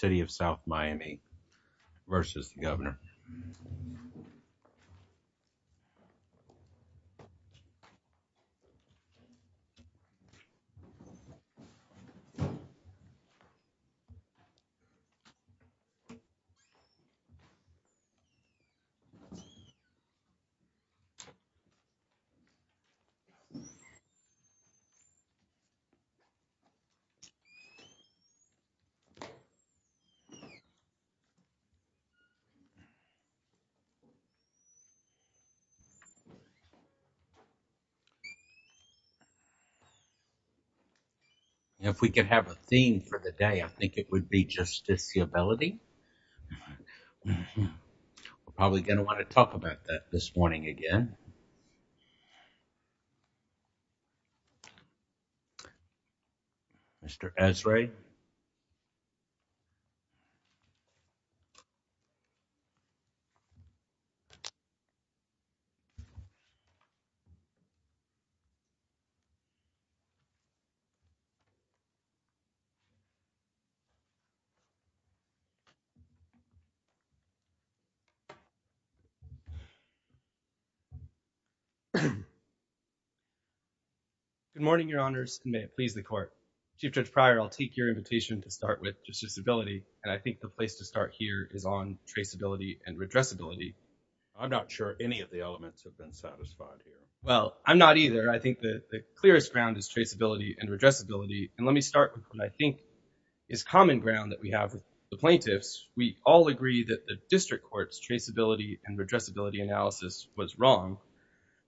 City of South Miami v. Governor. If we could have a theme for the day, I think it would be justiciability. We're probably going to want to talk about that this morning again. Good morning, your honors, and may it please the court. Chief Judge Pryor, I'll take your invitation to start with justiciability, and I think the place to start here is on traceability and redressability. I'm not sure any of the elements have been satisfied here. Well, I'm not either. I think the clearest ground is traceability and redressability, and let me start with what I think is common ground that we have with the plaintiffs. We all agree that the district court's traceability and redressability analysis was wrong.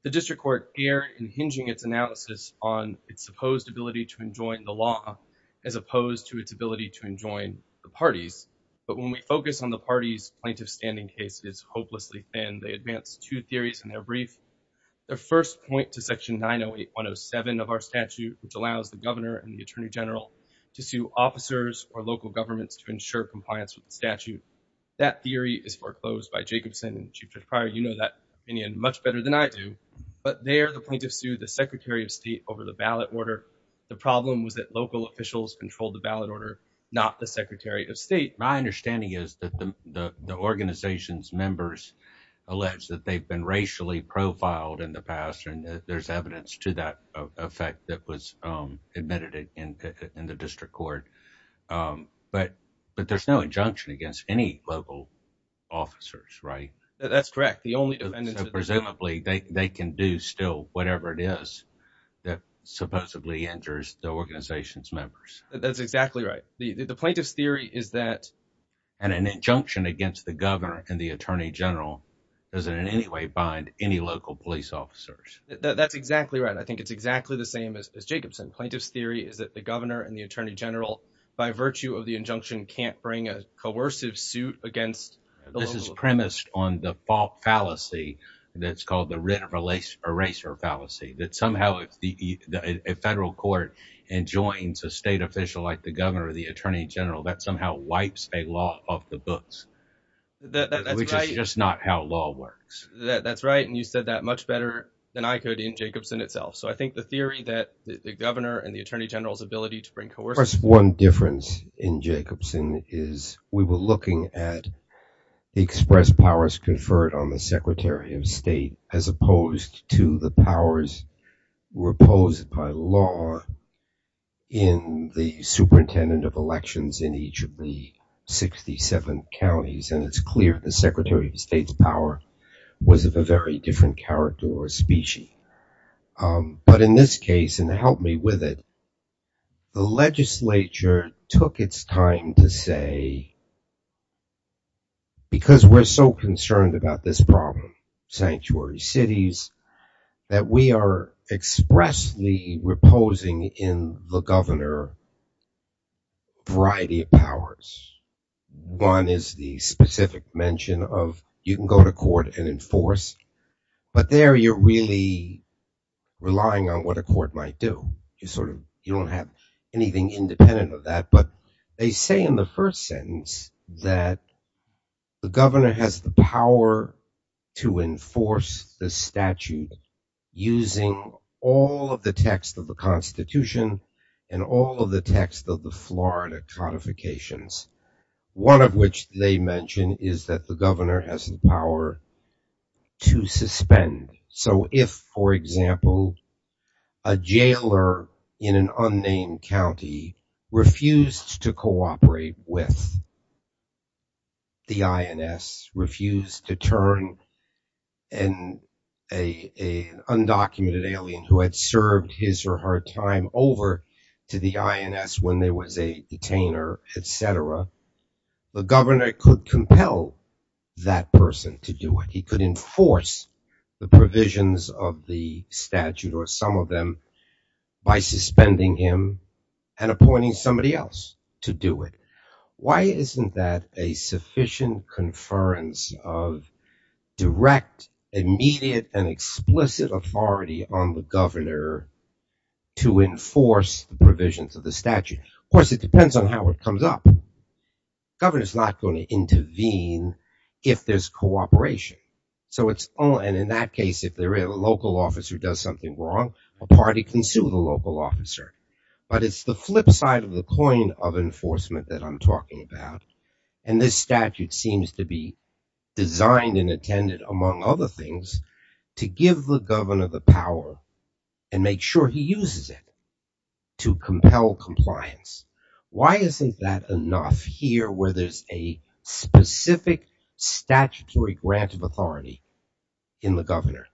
The district court erred in hinging its analysis on its supposed ability to enjoin the law as opposed to its ability to enjoin the parties, but when we focus on the parties' plaintiff standing cases hopelessly thin, they advance two theories in their brief. The first point to section 908107 of our statute, which allows the governor and the attorney general to sue officers or local governments to ensure compliance with the statute. That theory is foreclosed by Jacobson, and Chief Judge Pryor, you know that opinion much better than I do, but there the plaintiffs sued the secretary of state over the ballot order. The problem was that local officials controlled the ballot order, not the secretary of state. My understanding is that the organization's members allege that they've been racially profiled in the past, and that there's evidence to that effect that was admitted in the district court, but there's no injunction against any local officers, right? That's correct. The only dependence- Presumably, they can do still whatever it is that supposedly injures the organization's members. That's exactly right. The plaintiff's theory is that- And an injunction against the governor and the attorney general doesn't in any way bind any local police officers. That's exactly right. I think it's exactly the same as Jacobson. Plaintiff's theory is that the governor and the attorney general, by virtue of the injunction, can't bring a coercive suit against the local- This is premised on the fallacy that's called the written eraser fallacy, that somehow if a federal court enjoins a state official like the governor or the attorney general, that somehow wipes a law off the books. That's right. Which is just not how law works. That's right, and you said that much better than I could in Jacobson itself. So I think the theory that the governor and the attorney general's ability to bring coercive- Of course, one difference in Jacobson is we were looking at the express powers conferred on the secretary of state as opposed to the powers proposed by law in the superintendent of elections in each of the 67 counties, and it's clear the secretary of state's power was of a very different character or species. But in this case, and help me with it, the legislature took its time to say, because we're so concerned about this problem, sanctuary cities, that we are expressly reposing in the governor variety of powers. One is the specific mention of you can go to court and enforce, but there you're really relying on what a court might do. You don't have anything independent of that, but they say in the first sentence that the and all of the text of the Florida codifications, one of which they mention is that the governor has the power to suspend. So if, for example, a jailer in an unnamed county refused to cooperate with the INS, refused to turn an undocumented alien who had served his or her time over to the INS when there was a detainer, et cetera, the governor could compel that person to do it. He could enforce the provisions of the statute or some of them by suspending him and appointing somebody else to do it. Why isn't that a sufficient conference of direct, immediate, and explicit authority on the governor to enforce the provisions of the statute? Of course, it depends on how it comes up. The governor's not going to intervene if there's cooperation. So it's only, and in that case, if a local officer does something wrong, a party can sue the local officer. But it's the flip side of the coin of enforcement that I'm talking about. And this statute seems to be designed and intended, among other things, to give the governor the power and make sure he uses it to compel compliance. Why isn't that enough here where there's a specific statutory grant of authority in the governor?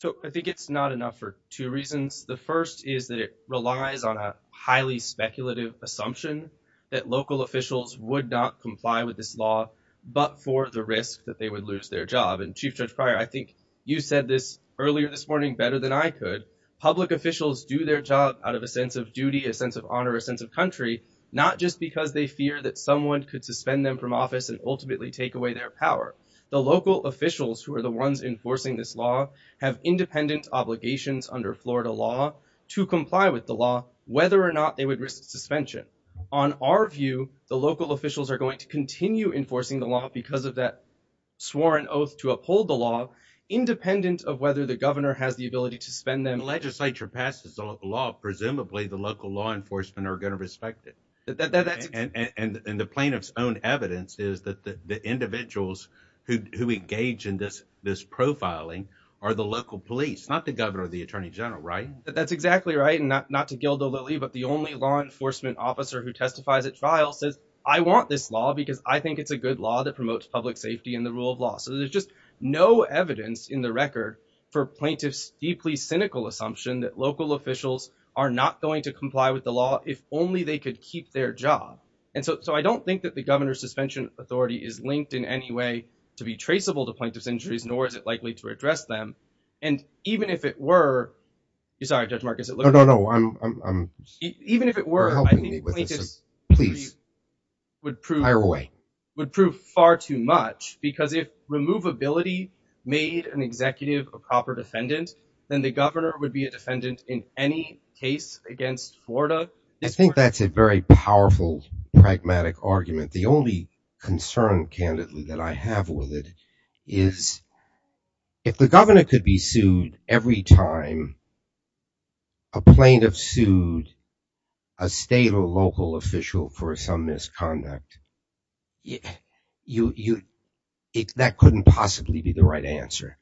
So I think it's not enough for two reasons. The first is that it relies on a highly speculative assumption that local officials would not comply with this law, but for the risk that they would lose their job. And Chief Judge Pryor, I think you said this earlier this morning better than I could. Public officials do their job out of a sense of duty, a sense of honor, a sense of country, not just because they fear that someone could suspend them from office and ultimately take away their power. The local officials who are the ones enforcing this law have independent obligations under Florida law to comply with the law, whether or not they would risk suspension. On our view, the local officials are going to continue enforcing the law because of that sworn oath to uphold the law, independent of whether the governor has the ability to suspend them. If the legislature passes the law, presumably the local law enforcement are going to respect it. And the plaintiff's own evidence is that the individuals who engage in this profiling are the local police, not the governor or the attorney general, right? That's exactly right. And not to gild the lily, but the only law enforcement officer who testifies at trial says I want this law because I think it's a good law that promotes public safety and the rule of law. So there's just no evidence in the record for plaintiff's deeply cynical assumption that local officials are not going to comply with the law if only they could keep their job. And so I don't think that the governor suspension authority is linked in any way to be traceable to plaintiff's injuries, nor is it likely to address them. And even if it were, you're sorry, Judge Marcus, even if it were, I think would prove would prove far too much because if removability made an executive a copper defendant, then the governor would be a defendant in any case against Florida. I think that's a very powerful, pragmatic argument. The only concern, candidly, that I have with it is if the governor could be sued every time a plaintiff sued a state or local official for some misconduct, that couldn't possibly be the right answer.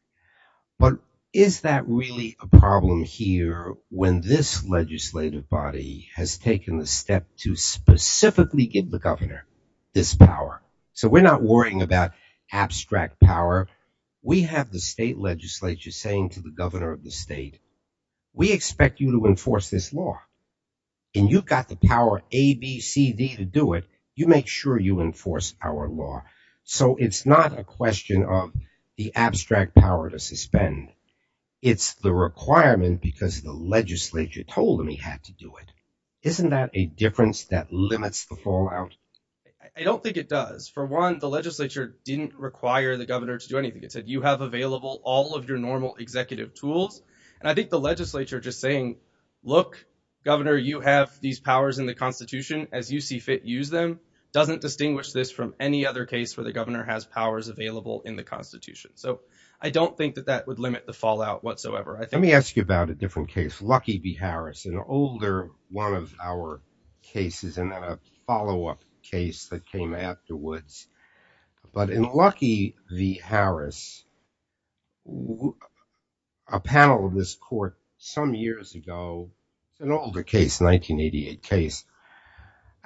But is that really a problem here when this legislative body has taken the step to specifically give the governor this power? So we're not worrying about abstract power. We have the state legislature saying to the governor of the state, we expect you to enforce this law. And you've got the power A, B, C, D to do it. You make sure you enforce our law. So it's not a question of the abstract power to suspend. It's the requirement because the legislature told him he had to do it. Isn't that a difference that limits the fallout? I don't think it does. For one, the legislature didn't require the governor to do anything. It said you have available all of your normal executive tools. And I think the legislature just saying, look, governor, you have these powers in the Constitution as you see fit. Use them. Doesn't distinguish this from any other case where the governor has powers available in the Constitution. So I don't think that that would limit the fallout whatsoever. Let me ask you about a different case. Lucky v. Harris, an older one of our cases and a follow up case that came afterwards. But in Lucky v. Harris, a panel of this court some years ago, an older case, 1988 case,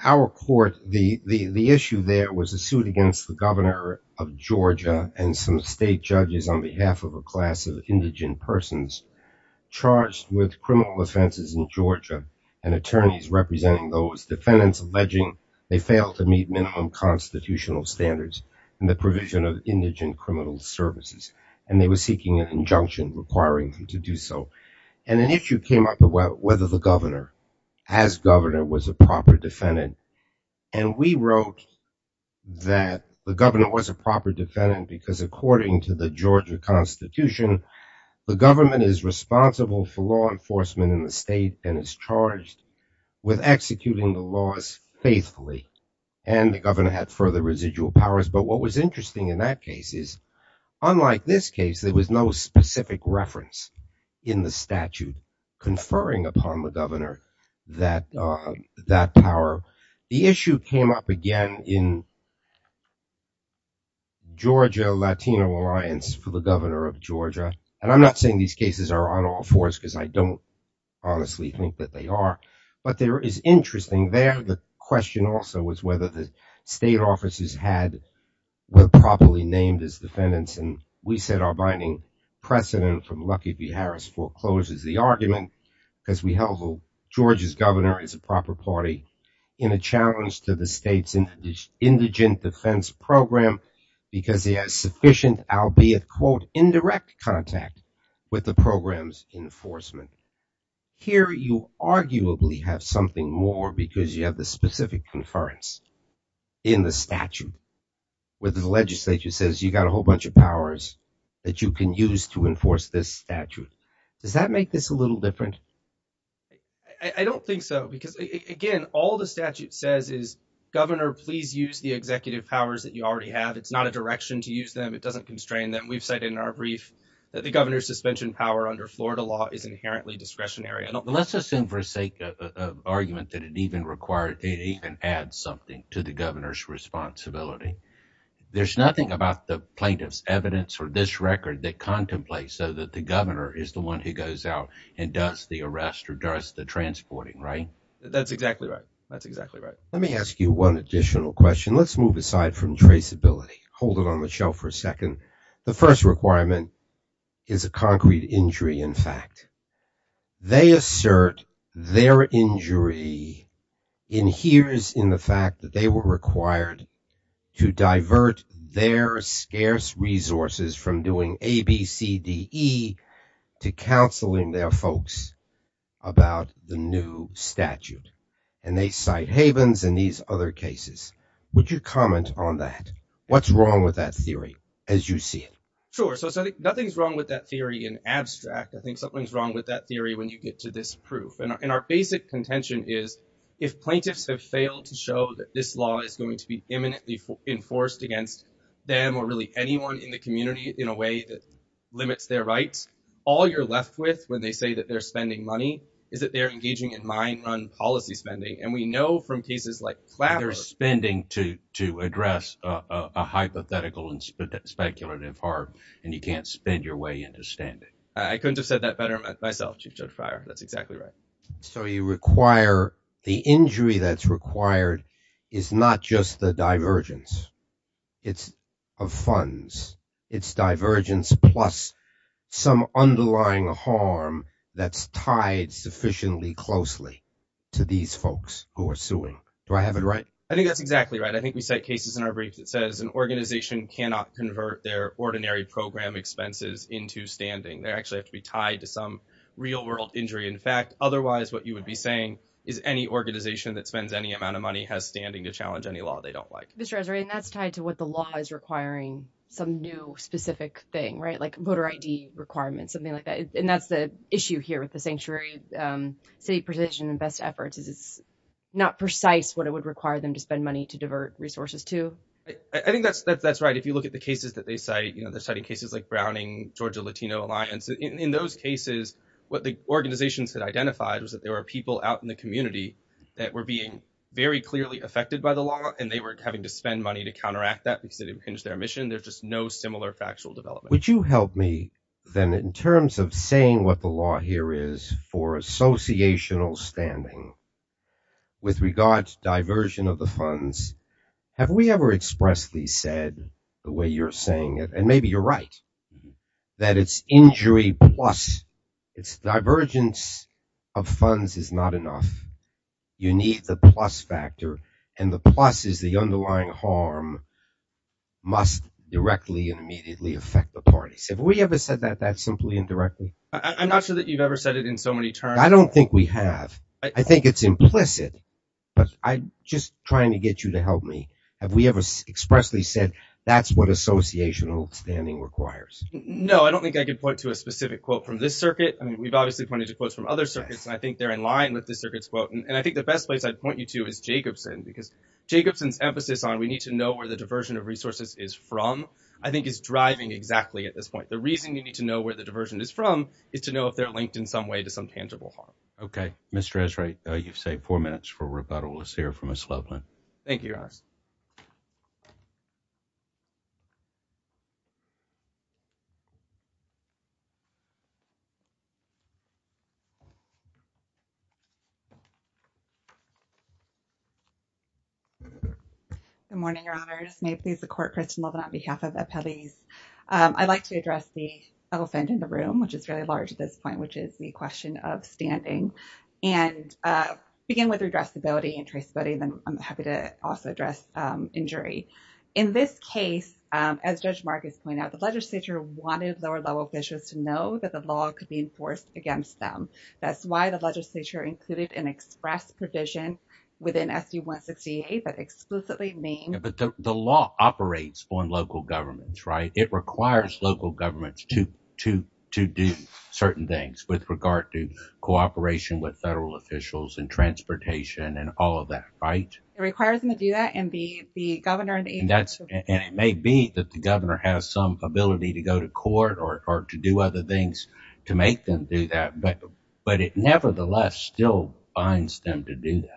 our court, the issue there was a suit against the governor of Georgia and some state judges on behalf of a class of indigent persons charged with criminal offenses in Georgia and attorneys representing those defendants alleging they failed to meet minimum constitutional standards and the provision of indigent criminal services. And they were seeking an injunction requiring them to do so. And an issue came up about whether the governor as governor was a proper defendant. And we wrote that the governor was a proper defendant because according to the Georgia Constitution, the government is responsible for law enforcement in the state and is charged with executing the laws faithfully. And the governor had further residual powers. But what was interesting in that case is unlike this case, there was no specific reference in the statute conferring upon the governor that that power. The issue came up again in Georgia Latino Alliance for the governor of Georgia. And I'm not saying these cases are on all fours because I don't honestly think that they are. But there is interesting there. The question also was whether the state offices had were properly named as defendants. And we said our binding precedent from Lucky v. Harris forecloses the argument because we held Georgia's governor is a proper party. In a challenge to the state's indigent defense program because he has sufficient, albeit quote, indirect contact with the program's enforcement. Here, you arguably have something more because you have the specific inference in the statute where the legislature says you got a whole bunch of powers that you can use to enforce this statute. Does that make this a little different? I don't think so, because, again, all the statute says is, governor, please use the executive powers that you already have. It's not a direction to use them. It doesn't constrain them. We've said in our brief that the governor's suspension power under Florida law is inherently discretionary. Let's assume for sake of argument that it even required it even add something to the governor's responsibility. There's nothing about the plaintiff's evidence or this record that contemplates so that the governor is the one who goes out and does the arrest or does the transporting, right? That's exactly right. That's exactly right. Let me ask you one additional question. Let's move aside from traceability. Hold it on the shelf for a second. The first requirement is a concrete injury. In fact, they assert their injury in here is in the fact that they were required to counsel in their folks about the new statute and they cite havens in these other cases. Would you comment on that? What's wrong with that theory as you see it? Sure. So nothing's wrong with that theory in abstract. I think something's wrong with that theory when you get to this proof. And our basic contention is if plaintiffs have failed to show that this law is going to be imminently enforced against them or really anyone in the community in a way that all you're left with when they say that they're spending money is that they're engaging in mine run policy spending. And we know from cases like. They're spending to to address a hypothetical and speculative part. And you can't spend your way into standing. I couldn't have said that better myself, Chief Judifier. That's exactly right. So you require the injury that's required is not just the divergence it's of funds, it's divergence, plus some underlying harm that's tied sufficiently closely to these folks who are suing. Do I have it right? I think that's exactly right. I think we cite cases in our brief that says an organization cannot convert their ordinary program expenses into standing. They actually have to be tied to some real world injury. In fact, otherwise, what you would be saying is any organization that spends any amount of money has standing to challenge any law they don't like. Mr. Azari, and that's tied to what the law is requiring, some new specific thing, right? Like voter ID requirements, something like that. And that's the issue here with the sanctuary city precision and best efforts is it's not precise what it would require them to spend money to divert resources to. I think that's that's right. If you look at the cases that they cite, you know, they're citing cases like Browning, Georgia Latino Alliance. In those cases, what the organizations had identified was that there were people out in the community that were being very clearly affected by the law and they were having to spend money to counteract that because it impinged their mission. There's just no similar factual development. Would you help me then in terms of saying what the law here is for associational standing? With regards to diversion of the funds, have we ever expressed these said the way you're saying it? And maybe you're right that it's injury plus its divergence of you need the plus factor and the plus is the underlying harm must directly and immediately affect the parties. Have we ever said that that simply and directly? I'm not sure that you've ever said it in so many terms. I don't think we have. I think it's implicit, but I'm just trying to get you to help me. Have we ever expressly said that's what associational standing requires? No, I don't think I could point to a specific quote from this circuit. I mean, we've obviously pointed to quotes from other circuits, and I think they're in quotes. And I think the best place I'd point you to is Jacobson, because Jacobson's emphasis on we need to know where the diversion of resources is from, I think, is driving exactly at this point. The reason you need to know where the diversion is from is to know if they're linked in some way to some tangible harm. OK, Mr. Esrae, you've saved four minutes for rebuttal. Let's hear from a slow plan. Thank you. Good morning, Your Honor, may please the court, Kristen Levin, on behalf of Appellees. I'd like to address the elephant in the room, which is very large at this point, which is the question of standing and begin with redressability and traceability. Then I'm happy to also address injury in this case, as Judge Marcus pointed out, the legislature wanted lower level officials to know that the law could be enforced against express provision within S.U. 168, but exclusively name. But the law operates on local governments, right? It requires local governments to to to do certain things with regard to cooperation with federal officials and transportation and all of that. Right. It requires them to do that and be the governor and that's and it may be that the governor has some ability to go to court or to do other things to make them do that. But it nevertheless still binds them to do that.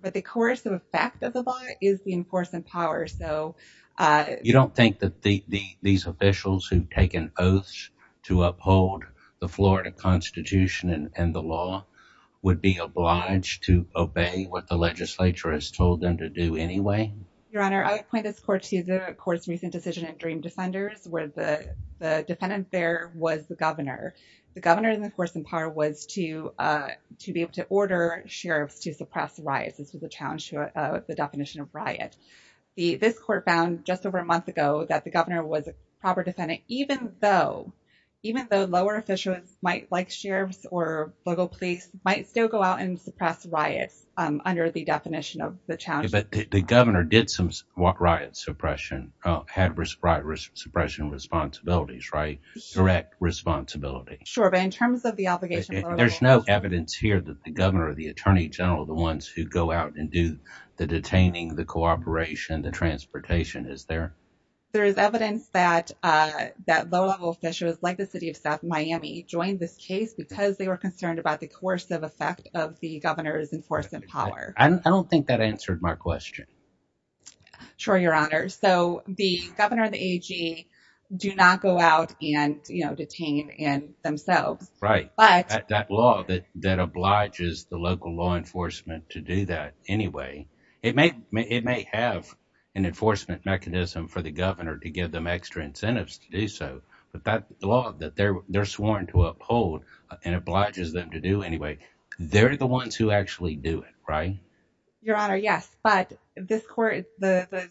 But the coercive effect of the law is the enforcement power. So you don't think that the these officials who've taken oaths to uphold the Florida Constitution and the law would be obliged to obey what the legislature has told them to do anyway? Your Honor, I would point this court to the court's recent decision in Dream Defenders where the defendant there was the governor. The governor, of course, in part was to to be able to order sheriffs to suppress riots. This was a challenge to the definition of riot. The this court found just over a month ago that the governor was a proper defendant, even though even though lower officials might like sheriffs or local police might still go out and suppress riots under the definition of the challenge. But the governor did some riot suppression, had respired suppression responsibilities, right? Direct responsibility. Sure. But in terms of the obligation, there's no evidence here that the governor or the attorney general, the ones who go out and do the detaining, the cooperation, the transportation is there. There is evidence that that low level officials like the city of South Miami joined this case because they were concerned about the coercive effect of the governor's enforcement power. I don't think that answered my question. Sure, your honor. So the governor, the A.G., do not go out and detain and themselves. Right. But that law that that obliges the local law enforcement to do that anyway, it may it may have an enforcement mechanism for the governor to give them extra incentives to do so. But that law that they're they're sworn to uphold and obliges them to do anyway, they're the ones who actually do it. Your honor, yes. But this court, the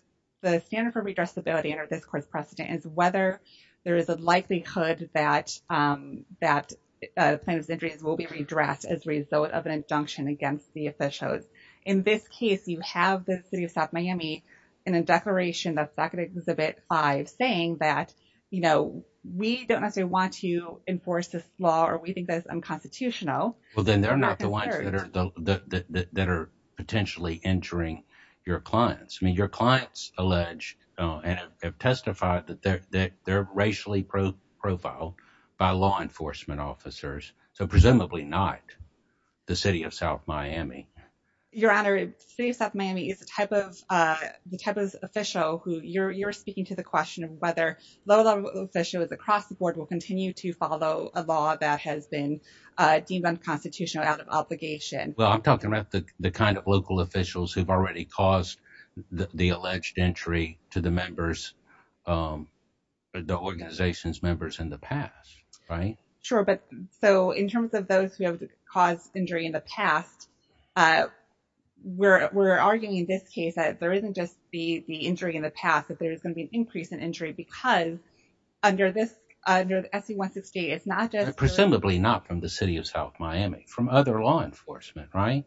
standard for redressability under this court's precedent is whether there is a likelihood that that sentence will be redressed as a result of an injunction against the officials. In this case, you have the city of South Miami in a declaration that's back in exhibit five saying that, you know, we don't necessarily want to enforce this law or we think that it's unconstitutional. Well, then they're not the ones that are that are potentially injuring your clients. I mean, your clients allege and have testified that they're that they're racially profiled by law enforcement officers. So presumably not the city of South Miami. Your honor, South Miami is a type of the type of official who you're speaking to the question of whether low level officials across the board will continue to follow a law that has been deemed unconstitutional out of obligation. Well, I'm talking about the kind of local officials who've already caused the alleged entry to the members, the organization's members in the past. Right. Sure. But so in terms of those who have caused injury in the past, we're arguing in this case that there isn't just the injury in the past, that there is going to be an increase in injury because under this under the state, it's not just presumably not from the city of South Miami, from other law enforcement, right?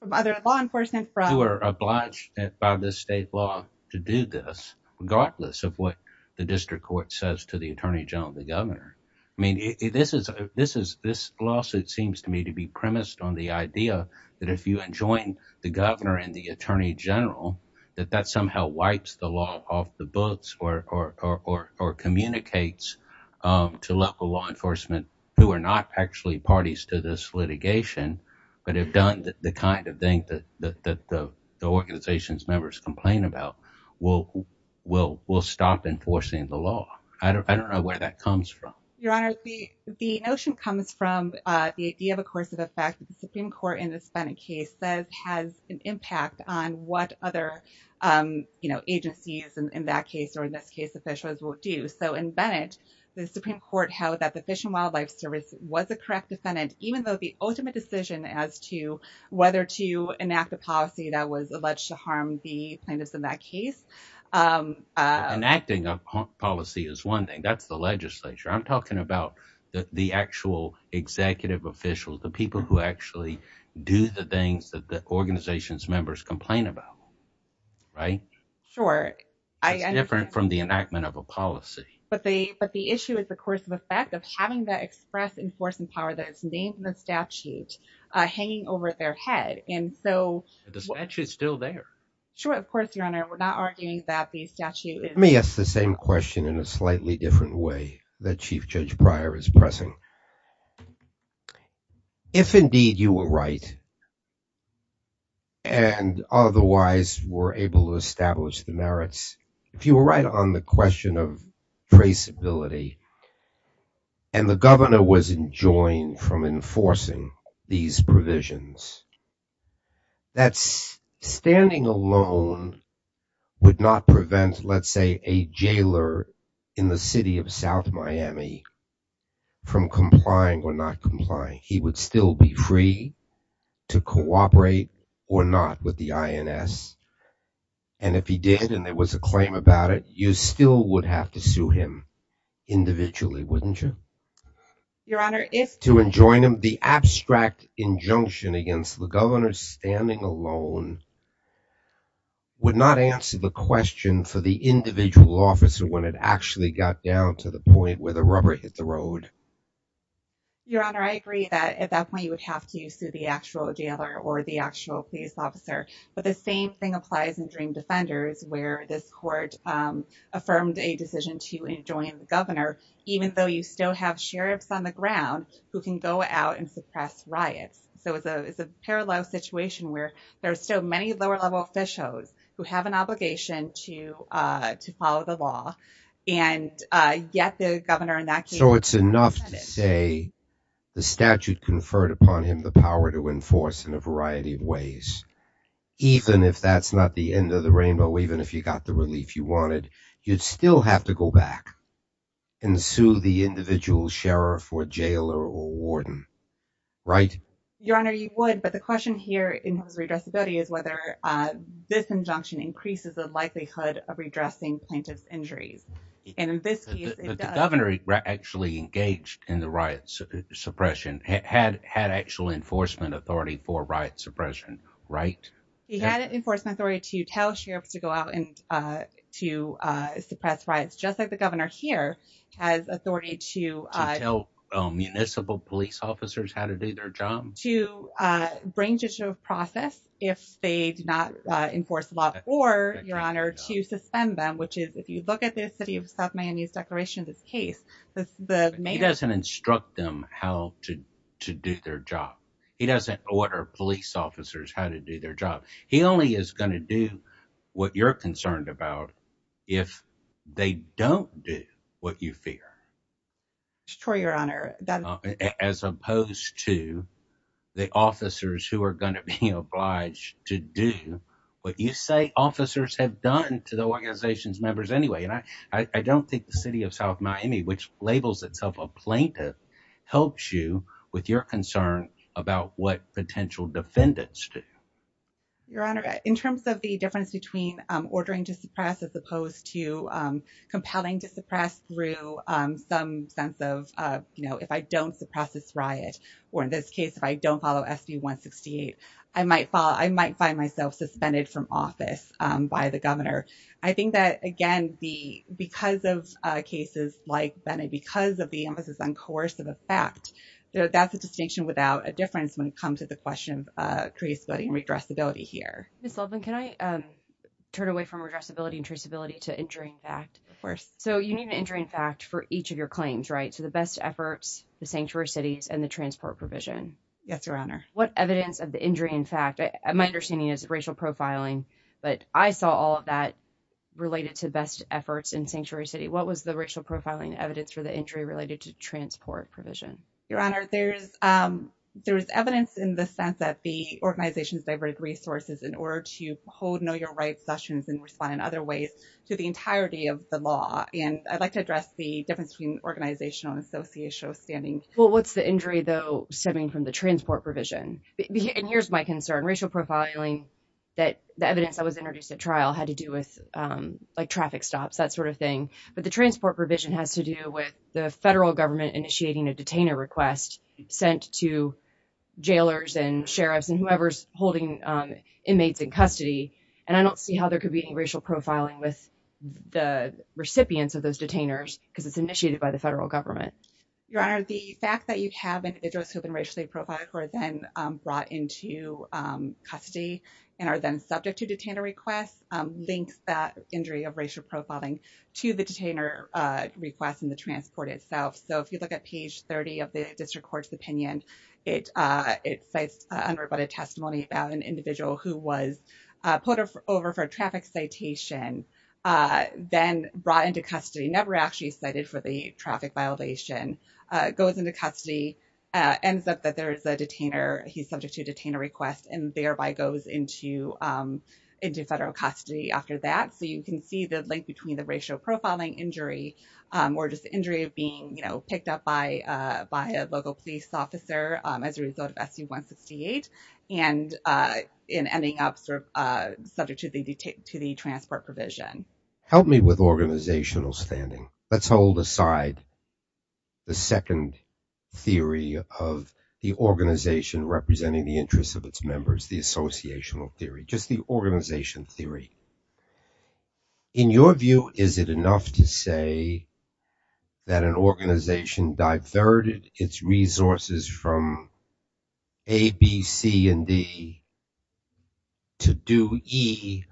From other law enforcement who are obliged by the state law to do this, regardless of what the district court says to the attorney general, the governor. I mean, this is this is this lawsuit seems to me to be premised on the idea that if you join the governor and the attorney general, that that somehow wipes the law off the books or communicates to local law enforcement who are not actually parties to this litigation, but have done the kind of thing that the organization's members complain about will will will stop enforcing the law. I don't know where that comes from. Your honor, the the notion comes from the idea, of course, of the fact that the Supreme Court in the case says has an impact on what other agencies in that case or in this case officials will do. So in Bennett, the Supreme Court held that the Fish and Wildlife Service was a correct defendant, even though the ultimate decision as to whether to enact a policy that was alleged to harm the plaintiffs in that case. Enacting a policy is one thing. That's the legislature. I'm talking about the actual executive officials, the people who actually do the things that the organization's members complain about. Right. Sure. I am different from the enactment of a policy. But the but the issue is, of course, the fact of having that express enforcing power that it's named the statute hanging over their head. And so the statute is still there. Sure. Of course, your honor. We're not arguing that the statute is. Let me ask the same question in a slightly different way that Chief Judge Pryor is pressing. If indeed you were right. And otherwise were able to establish the merits, if you were right on the question of traceability. And the governor was enjoined from enforcing these provisions. That's standing alone would not prevent, let's say, a jailer in the city of South Miami from complying or not complying. He would still be free to cooperate or not with the INS. And if he did and there was a claim about it, you still would have to sue him individually, wouldn't you? Your honor, if to enjoin him the abstract injunction against him. The governor standing alone. Would not answer the question for the individual officer when it actually got down to the point where the rubber hit the road. Your honor, I agree that at that point you would have to sue the actual jailer or the actual police officer. But the same thing applies in Dream Defenders, where this court affirmed a decision to enjoin the governor, even though you still have sheriffs on the ground who can go out and suppress riots. So it's a it's a parallel situation where there are so many lower level officials who have an obligation to to follow the law. And yet the governor in that case. So it's enough to say the statute conferred upon him the power to enforce in a variety of ways. Even if that's not the end of the rainbow, even if you got the relief you wanted, you'd still have to go back and sue the individual sheriff or jailer or warden. Right, your honor, you would. But the question here in his redressability is whether this injunction increases the likelihood of redressing plaintiff's injuries. And in this case, the governor actually engaged in the riots suppression, had had actual enforcement authority for riot suppression. Right. He had an enforcement authority to tell sheriffs to go out and to suppress riots, just like the governor here has authority to tell municipal police officers how to do their job, to bring to process if they do not enforce the law or your honor, to suspend them, which is if you look at the city of South Miami's declaration of this case, the mayor doesn't instruct them how to to do their job. He doesn't order police officers how to do their job. He only is going to do what you're concerned about if they don't do what you fear. Sure, your honor, that as opposed to the officers who are going to be obliged to do what you say officers have done to the organization's members anyway, and I don't think the city of South Miami, which labels itself a plaintiff, helps you with your concern about what potential defendants do. Your honor, in terms of the difference between ordering to suppress as opposed to compelling to suppress through some sense of, you know, if I don't suppress this riot or in this case, if I don't follow SB 168, I might fall. I might find myself suspended from office by the governor. I think that, again, the because of cases like that and because of the emphasis on coercive effect, that's a distinction without a difference when it comes to the question of crease and regressibility here. Ms. Loveland, can I turn away from regressibility and traceability to injuring fact? Of course. So you need an injury, in fact, for each of your claims, right? So the best efforts, the sanctuary cities and the transport provision. Yes, your honor. What evidence of the injury, in fact, my understanding is racial profiling, but I saw all of that related to best efforts in sanctuary city. What was the racial profiling evidence for the injury related to transport provision? Your honor, there's there's evidence in the sense that the organization's diverted resources in order to hold know your rights sessions and respond in other ways to the entirety of the law. And I'd like to address the difference between organizational and associational standing. Well, what's the injury, though, stemming from the transport provision? And here's my concern. Racial profiling that the evidence that was introduced at trial had to do with like traffic stops, that sort of thing. But the transport provision has to do with the federal government initiating a detainer request sent to jailers and sheriffs and whoever's holding inmates in custody. And I don't see how there could be any racial profiling with the recipients of those detainers because it's initiated by the federal government. Your honor, the fact that you have individuals who have been racially profiled who are then brought into custody and are then subject to detainer requests links that injury of the detainer request and the transport itself. So if you look at page 30 of the district court's opinion, it it says unrebutted testimony about an individual who was put over for traffic citation, then brought into custody, never actually cited for the traffic violation, goes into custody, ends up that there is a detainer. He's subject to a detainer request and thereby goes into into federal custody after that. So you can see the link between the racial profiling injury or just the injury of being picked up by by a local police officer as a result of SU-168 and in ending up sort of subject to the transport provision. Help me with organizational standing. Let's hold aside the second theory of the organization representing the interests of its members, the associational theory, just the organization theory. In your view, is it enough to say that an organization diverted its resources from A, B, C and D to do E,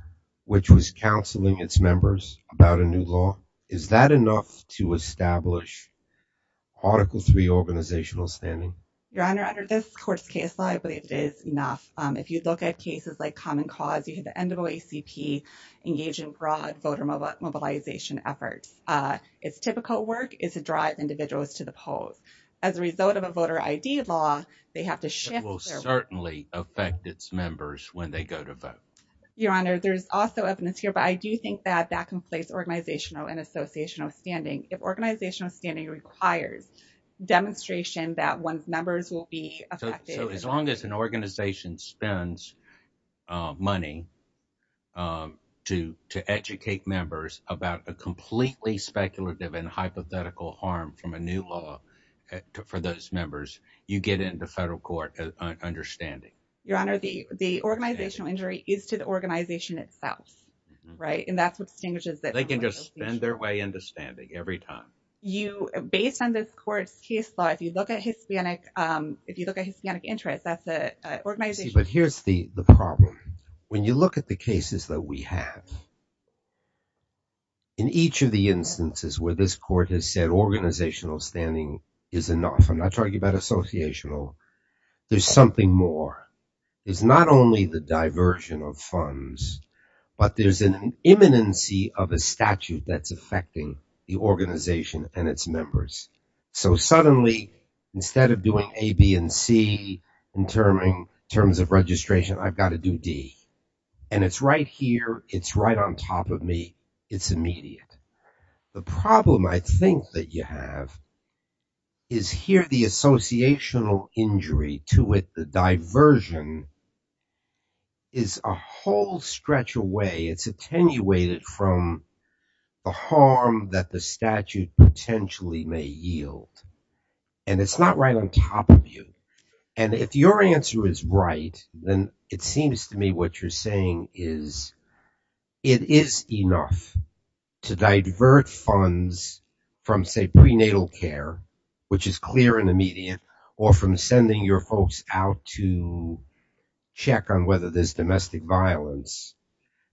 which was counseling its members about a new law? Is that enough to establish Article three organizational standing? Your Honor, under this court's case law, I believe it is enough. If you look at cases like Common Cause, you had the NAACP engage in broad voter mobilization efforts. It's typical work is to drive individuals to the polls as a result of a voter ID law. They have to shift. It will certainly affect its members when they go to vote. Your Honor, there's also evidence here, but I do think that that conflates organizational and associational standing. If organizational standing requires demonstration that one's members will be affected. So as long as an organization spends money to to educate members about a completely speculative and hypothetical harm from a new law for those members, you get into federal court understanding. Your Honor, the the organizational injury is to the organization itself. Right. And that's what distinguishes that they can just spend their way into standing every time. You based on this court's case law, if you look at Hispanic if you look at Hispanic interest, that's the organization. But here's the the problem. When you look at the cases that we have. In each of the instances where this court has said organizational standing is enough, I'm not talking about associational, there's something more. It's not only the diversion of funds, but there's an imminency of a statute that's affecting the organization and its members. So suddenly, instead of doing A, B and C in terms of registration, I've got to do D. And it's right here. It's right on top of me. It's immediate. The problem I think that you have. Is here the associational injury to it, the diversion. Is a whole stretch away, it's attenuated from the harm that the statute potentially may yield. And it's not right on top of you. And if your answer is right, then it seems to me what you're saying is it is enough to divert funds from, say, prenatal care, which is clear and immediate, or from sending your folks out to check on whether there's domestic violence,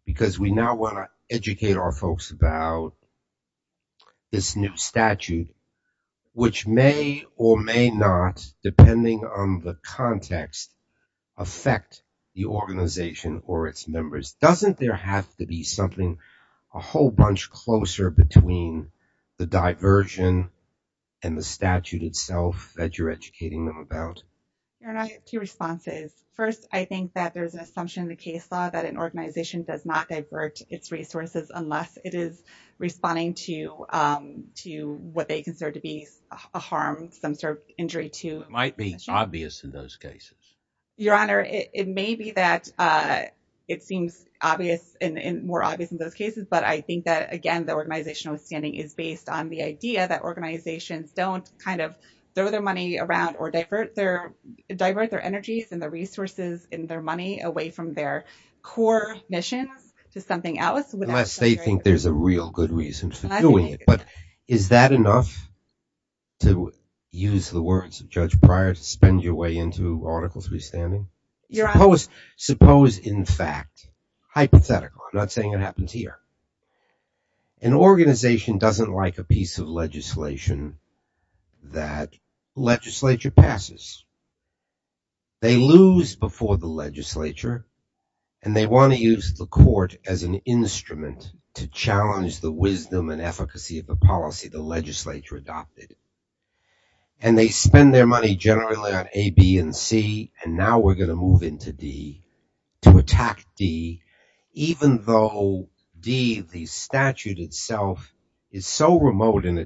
because we now want to educate our statute, which may or may not, depending on the context, affect the organization or its members. Doesn't there have to be something, a whole bunch closer between the diversion and the statute itself that you're educating them about? There are two responses. First, I think that there's an assumption in the case law that an organization does not do what they consider to be a harm, some sort of injury to. It might be obvious in those cases. Your Honor, it may be that it seems obvious and more obvious in those cases. But I think that, again, the organizational standing is based on the idea that organizations don't kind of throw their money around or divert their energies and the resources in their money away from their core missions to something else. Unless they think there's a real good reason for doing it. But is that enough to use the words of Judge Pryor to spend your way into Article 3 standing? Suppose, in fact, hypothetical, I'm not saying it happens here, an organization doesn't like a piece of legislation that legislature passes. They lose before the legislature and they want to use the court as an instrument to challenge the wisdom and efficacy of the policy the legislature adopted. And they spend their money generally on A, B, and C. And now we're going to move into D to attack D, even though D, the statute itself, is so to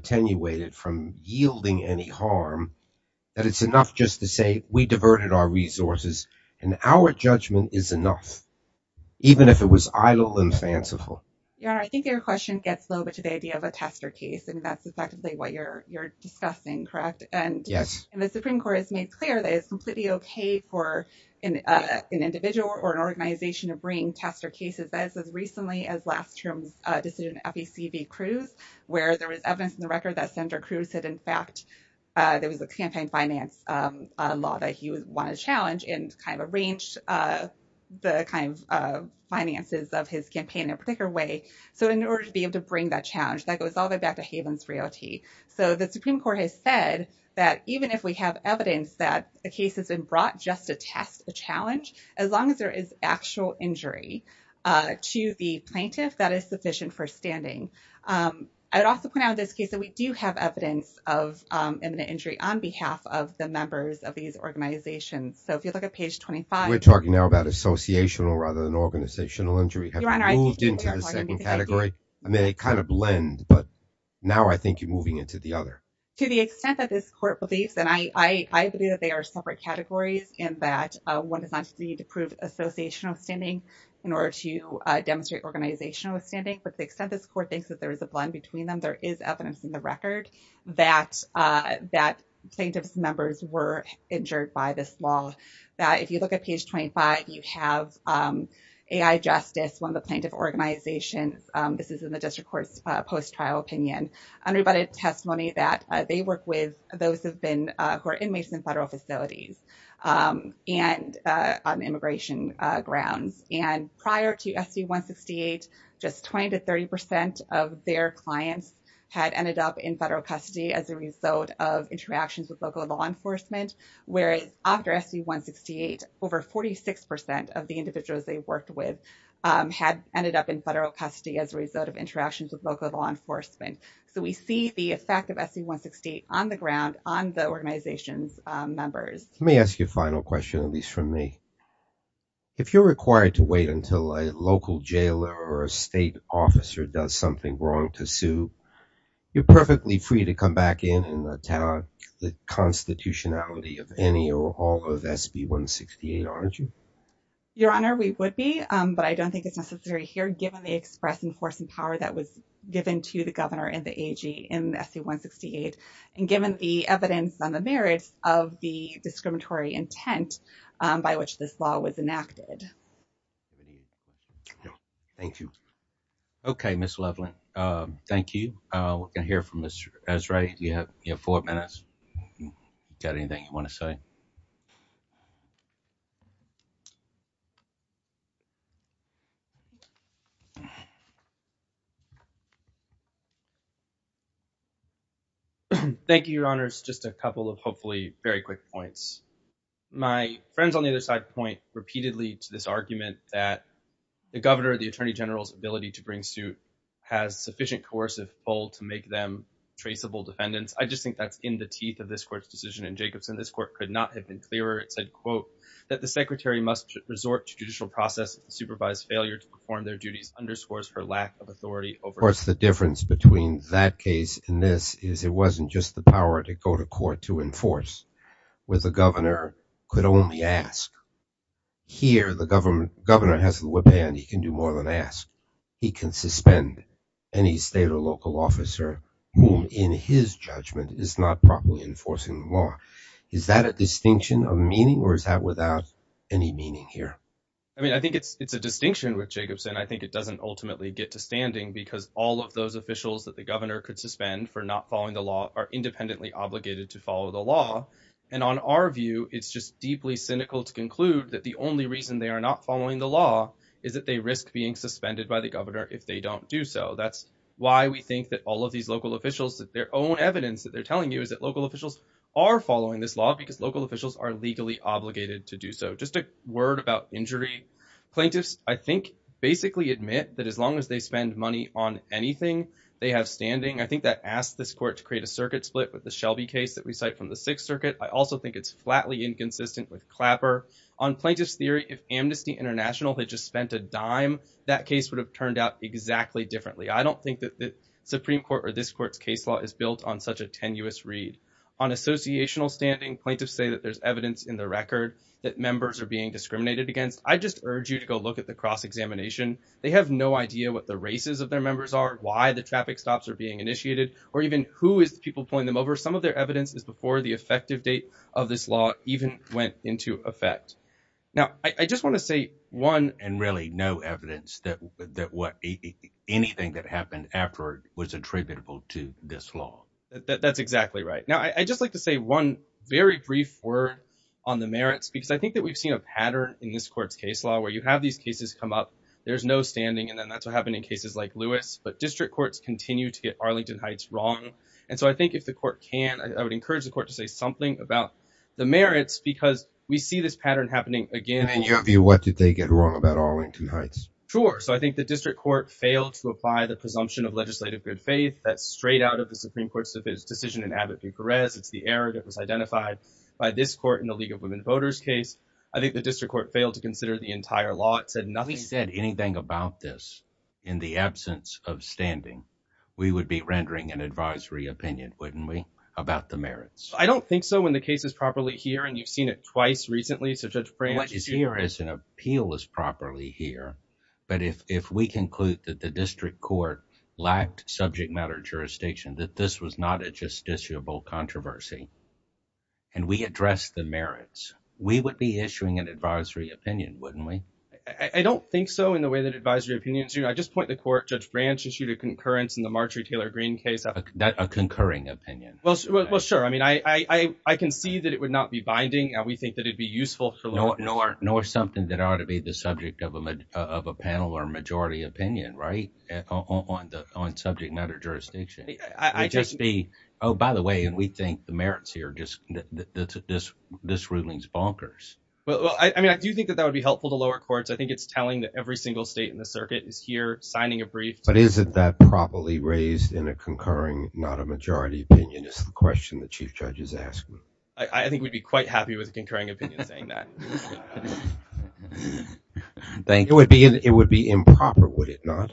say we diverted our resources and our judgment is enough, even if it was idle and fanciful. Your Honor, I think your question gets a little bit to the idea of a tester case, and that's effectively what you're discussing, correct? And the Supreme Court has made clear that it's completely OK for an individual or an organization to bring tester cases as recently as last term's decision in FEC v. Cruz, where there was evidence in the record that Senator Cruz had, in fact, there was a campaign finance law that he wanted to challenge and kind of arranged the kind of finances of his campaign in a particular way. So in order to be able to bring that challenge, that goes all the way back to Havens Realty. So the Supreme Court has said that even if we have evidence that the case has been brought just to test the challenge, as long as there is actual injury to the plaintiff, that is sufficient for standing. I would also point out in this case that we do have evidence of imminent injury on behalf of the members of these organizations. So if you look at page 25. We're talking now about associational rather than organizational injury. Have you moved into the second category? I mean, they kind of blend, but now I think you're moving into the other. To the extent that this court believes, and I believe that they are separate categories in that one does not need to prove associational standing in order to demonstrate organizational standing. But the extent this court thinks that there is a blend between them, there is evidence in the record that that plaintiff's members were injured by this law. If you look at page 25, you have AI Justice, one of the plaintiff organizations. This is in the district court's post-trial opinion, unrebutted testimony that they work with those who have been who are inmates in federal facilities and on the ground. In the case of SC168, just 20 to 30 percent of their clients had ended up in federal custody as a result of interactions with local law enforcement. Whereas after SC168, over 46 percent of the individuals they worked with had ended up in federal custody as a result of interactions with local law enforcement. So we see the effect of SC168 on the ground, on the organization's members. Let me ask you a final question, at least from me. If you're required to wait until a local jailer or a state officer does something wrong to sue, you're perfectly free to come back in and attack the constitutionality of any or all of SC168, aren't you? Your Honor, we would be, but I don't think it's necessary here, given the express enforcing power that was given to the governor and the AG in SC168 and given the merits of the discriminatory intent by which this law was enacted. Thank you. OK, Ms. Leveland, thank you. We're going to hear from Mr. Esrae. You have four minutes. Got anything you want to say? Thank you, Your Honors. Just a couple of hopefully very quick points. My friends on the other side point repeatedly to this argument that the governor, the attorney general's ability to bring suit has sufficient coercive pull to make them traceable defendants. I just think that's in the teeth of this court's decision. In Jacobson, this court could not have been clearer. It said, quote, that the secretary must resort to judicial process, supervise, and prosecute. Of course, the difference between that case and this is it wasn't just the power to go to court to enforce, where the governor could only ask. Here, the governor has the whip hand. He can do more than ask. He can suspend any state or local officer whom, in his judgment, is not properly enforcing the law. Is that a distinction of meaning or is that without any meaning here? I mean, I think it's a distinction with Jacobson. I think it doesn't ultimately get to standing because all of those officials that the governor could suspend for not following the law are independently obligated to follow the law. And on our view, it's just deeply cynical to conclude that the only reason they are not following the law is that they risk being suspended by the governor if they don't do so. That's why we think that all of these local officials, that their own evidence that they're telling you is that local officials are following this law because local officials are legally obligated to do so. Just a word about injury. Plaintiffs, I think, basically admit that as long as they spend money on anything they have standing, I think that asks this court to create a circuit split with the Shelby case that we cite from the Sixth Circuit. I also think it's flatly inconsistent with Clapper. On plaintiff's theory, if Amnesty International had just spent a dime, that case would have turned out exactly differently. I don't think that the Supreme Court or this court's case law is built on such a tenuous read. On associational standing, plaintiffs say that there's evidence in the record that members are being discriminated against. I just urge you to go look at the cross-examination. They have no idea what the races of their members are, why the traffic stops are being initiated, or even who is the people pulling them over. Some of their evidence is before the effective date of this law even went into effect. Now, I just want to say one and really no evidence that that what anything that happened after was attributable to this law. That's exactly right. Now, I just like to say one very brief word on the merits, because I think that we've seen a pattern in this court's case law where you have these cases come up, there's no standing. And then that's what happened in cases like Lewis. But district courts continue to get Arlington Heights wrong. And so I think if the court can, I would encourage the court to say something about the merits, because we see this pattern happening again. In your view, what did they get wrong about Arlington Heights? Sure. So I think the district court failed to apply the presumption of legislative good faith. That's straight out of the Supreme Court's decision in Abbott v. Perez. It's the error that was identified by this court in the League of Women Voters case. I think the district court failed to consider the entire law. It said nothing. If they said anything about this in the absence of standing, we would be rendering an advisory opinion, wouldn't we, about the merits? I don't think so when the case is properly here. And you've seen it twice recently. So Judge Branch is here as an appeal is properly here. But if we conclude that the district court lacked subject matter jurisdiction, that this was not a justiciable controversy. And we address the merits, we would be issuing an advisory opinion, wouldn't we? I don't think so in the way that advisory opinions. I just point the court. Judge Branch issued a concurrence in the Marjorie Taylor Greene case, a concurring opinion. Well, sure. I mean, I can see that it would not be binding. And we think that it'd be useful for law or something that ought to be the subject of a of a panel or majority opinion. Right. On the on subject matter jurisdiction. I just be oh, by the way. And we think the merits here just that this this ruling is bonkers. Well, I mean, I do think that that would be helpful to lower courts. I think it's telling that every single state in the circuit is here signing a brief. But isn't that properly raised in a concurring, not a majority opinion is the question the chief judge is asking. I think we'd be quite happy with a concurring opinion saying that. Thank you. It would be it would be improper, would it not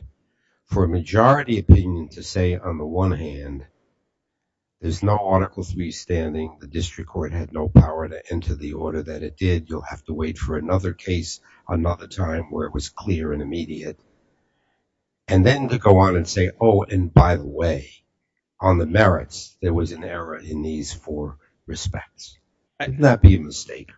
for a majority opinion to say, on the one hand. There's no article three standing, the district court had no power to enter the order that it did. You'll have to wait for another case, another time where it was clear and immediate. And then to go on and say, oh, and by the way, on the merits, there was an error in these four respects that be a mistake.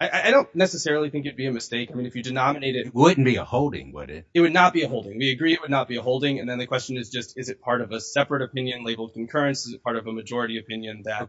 I don't necessarily think it'd be a mistake. I mean, if you denominated wouldn't be a holding, would it? It would not be a holding. We agree it would not be a holding. And then the question is just, is it part of a separate opinion labeled concurrence? Is it part of a majority opinion that Mr.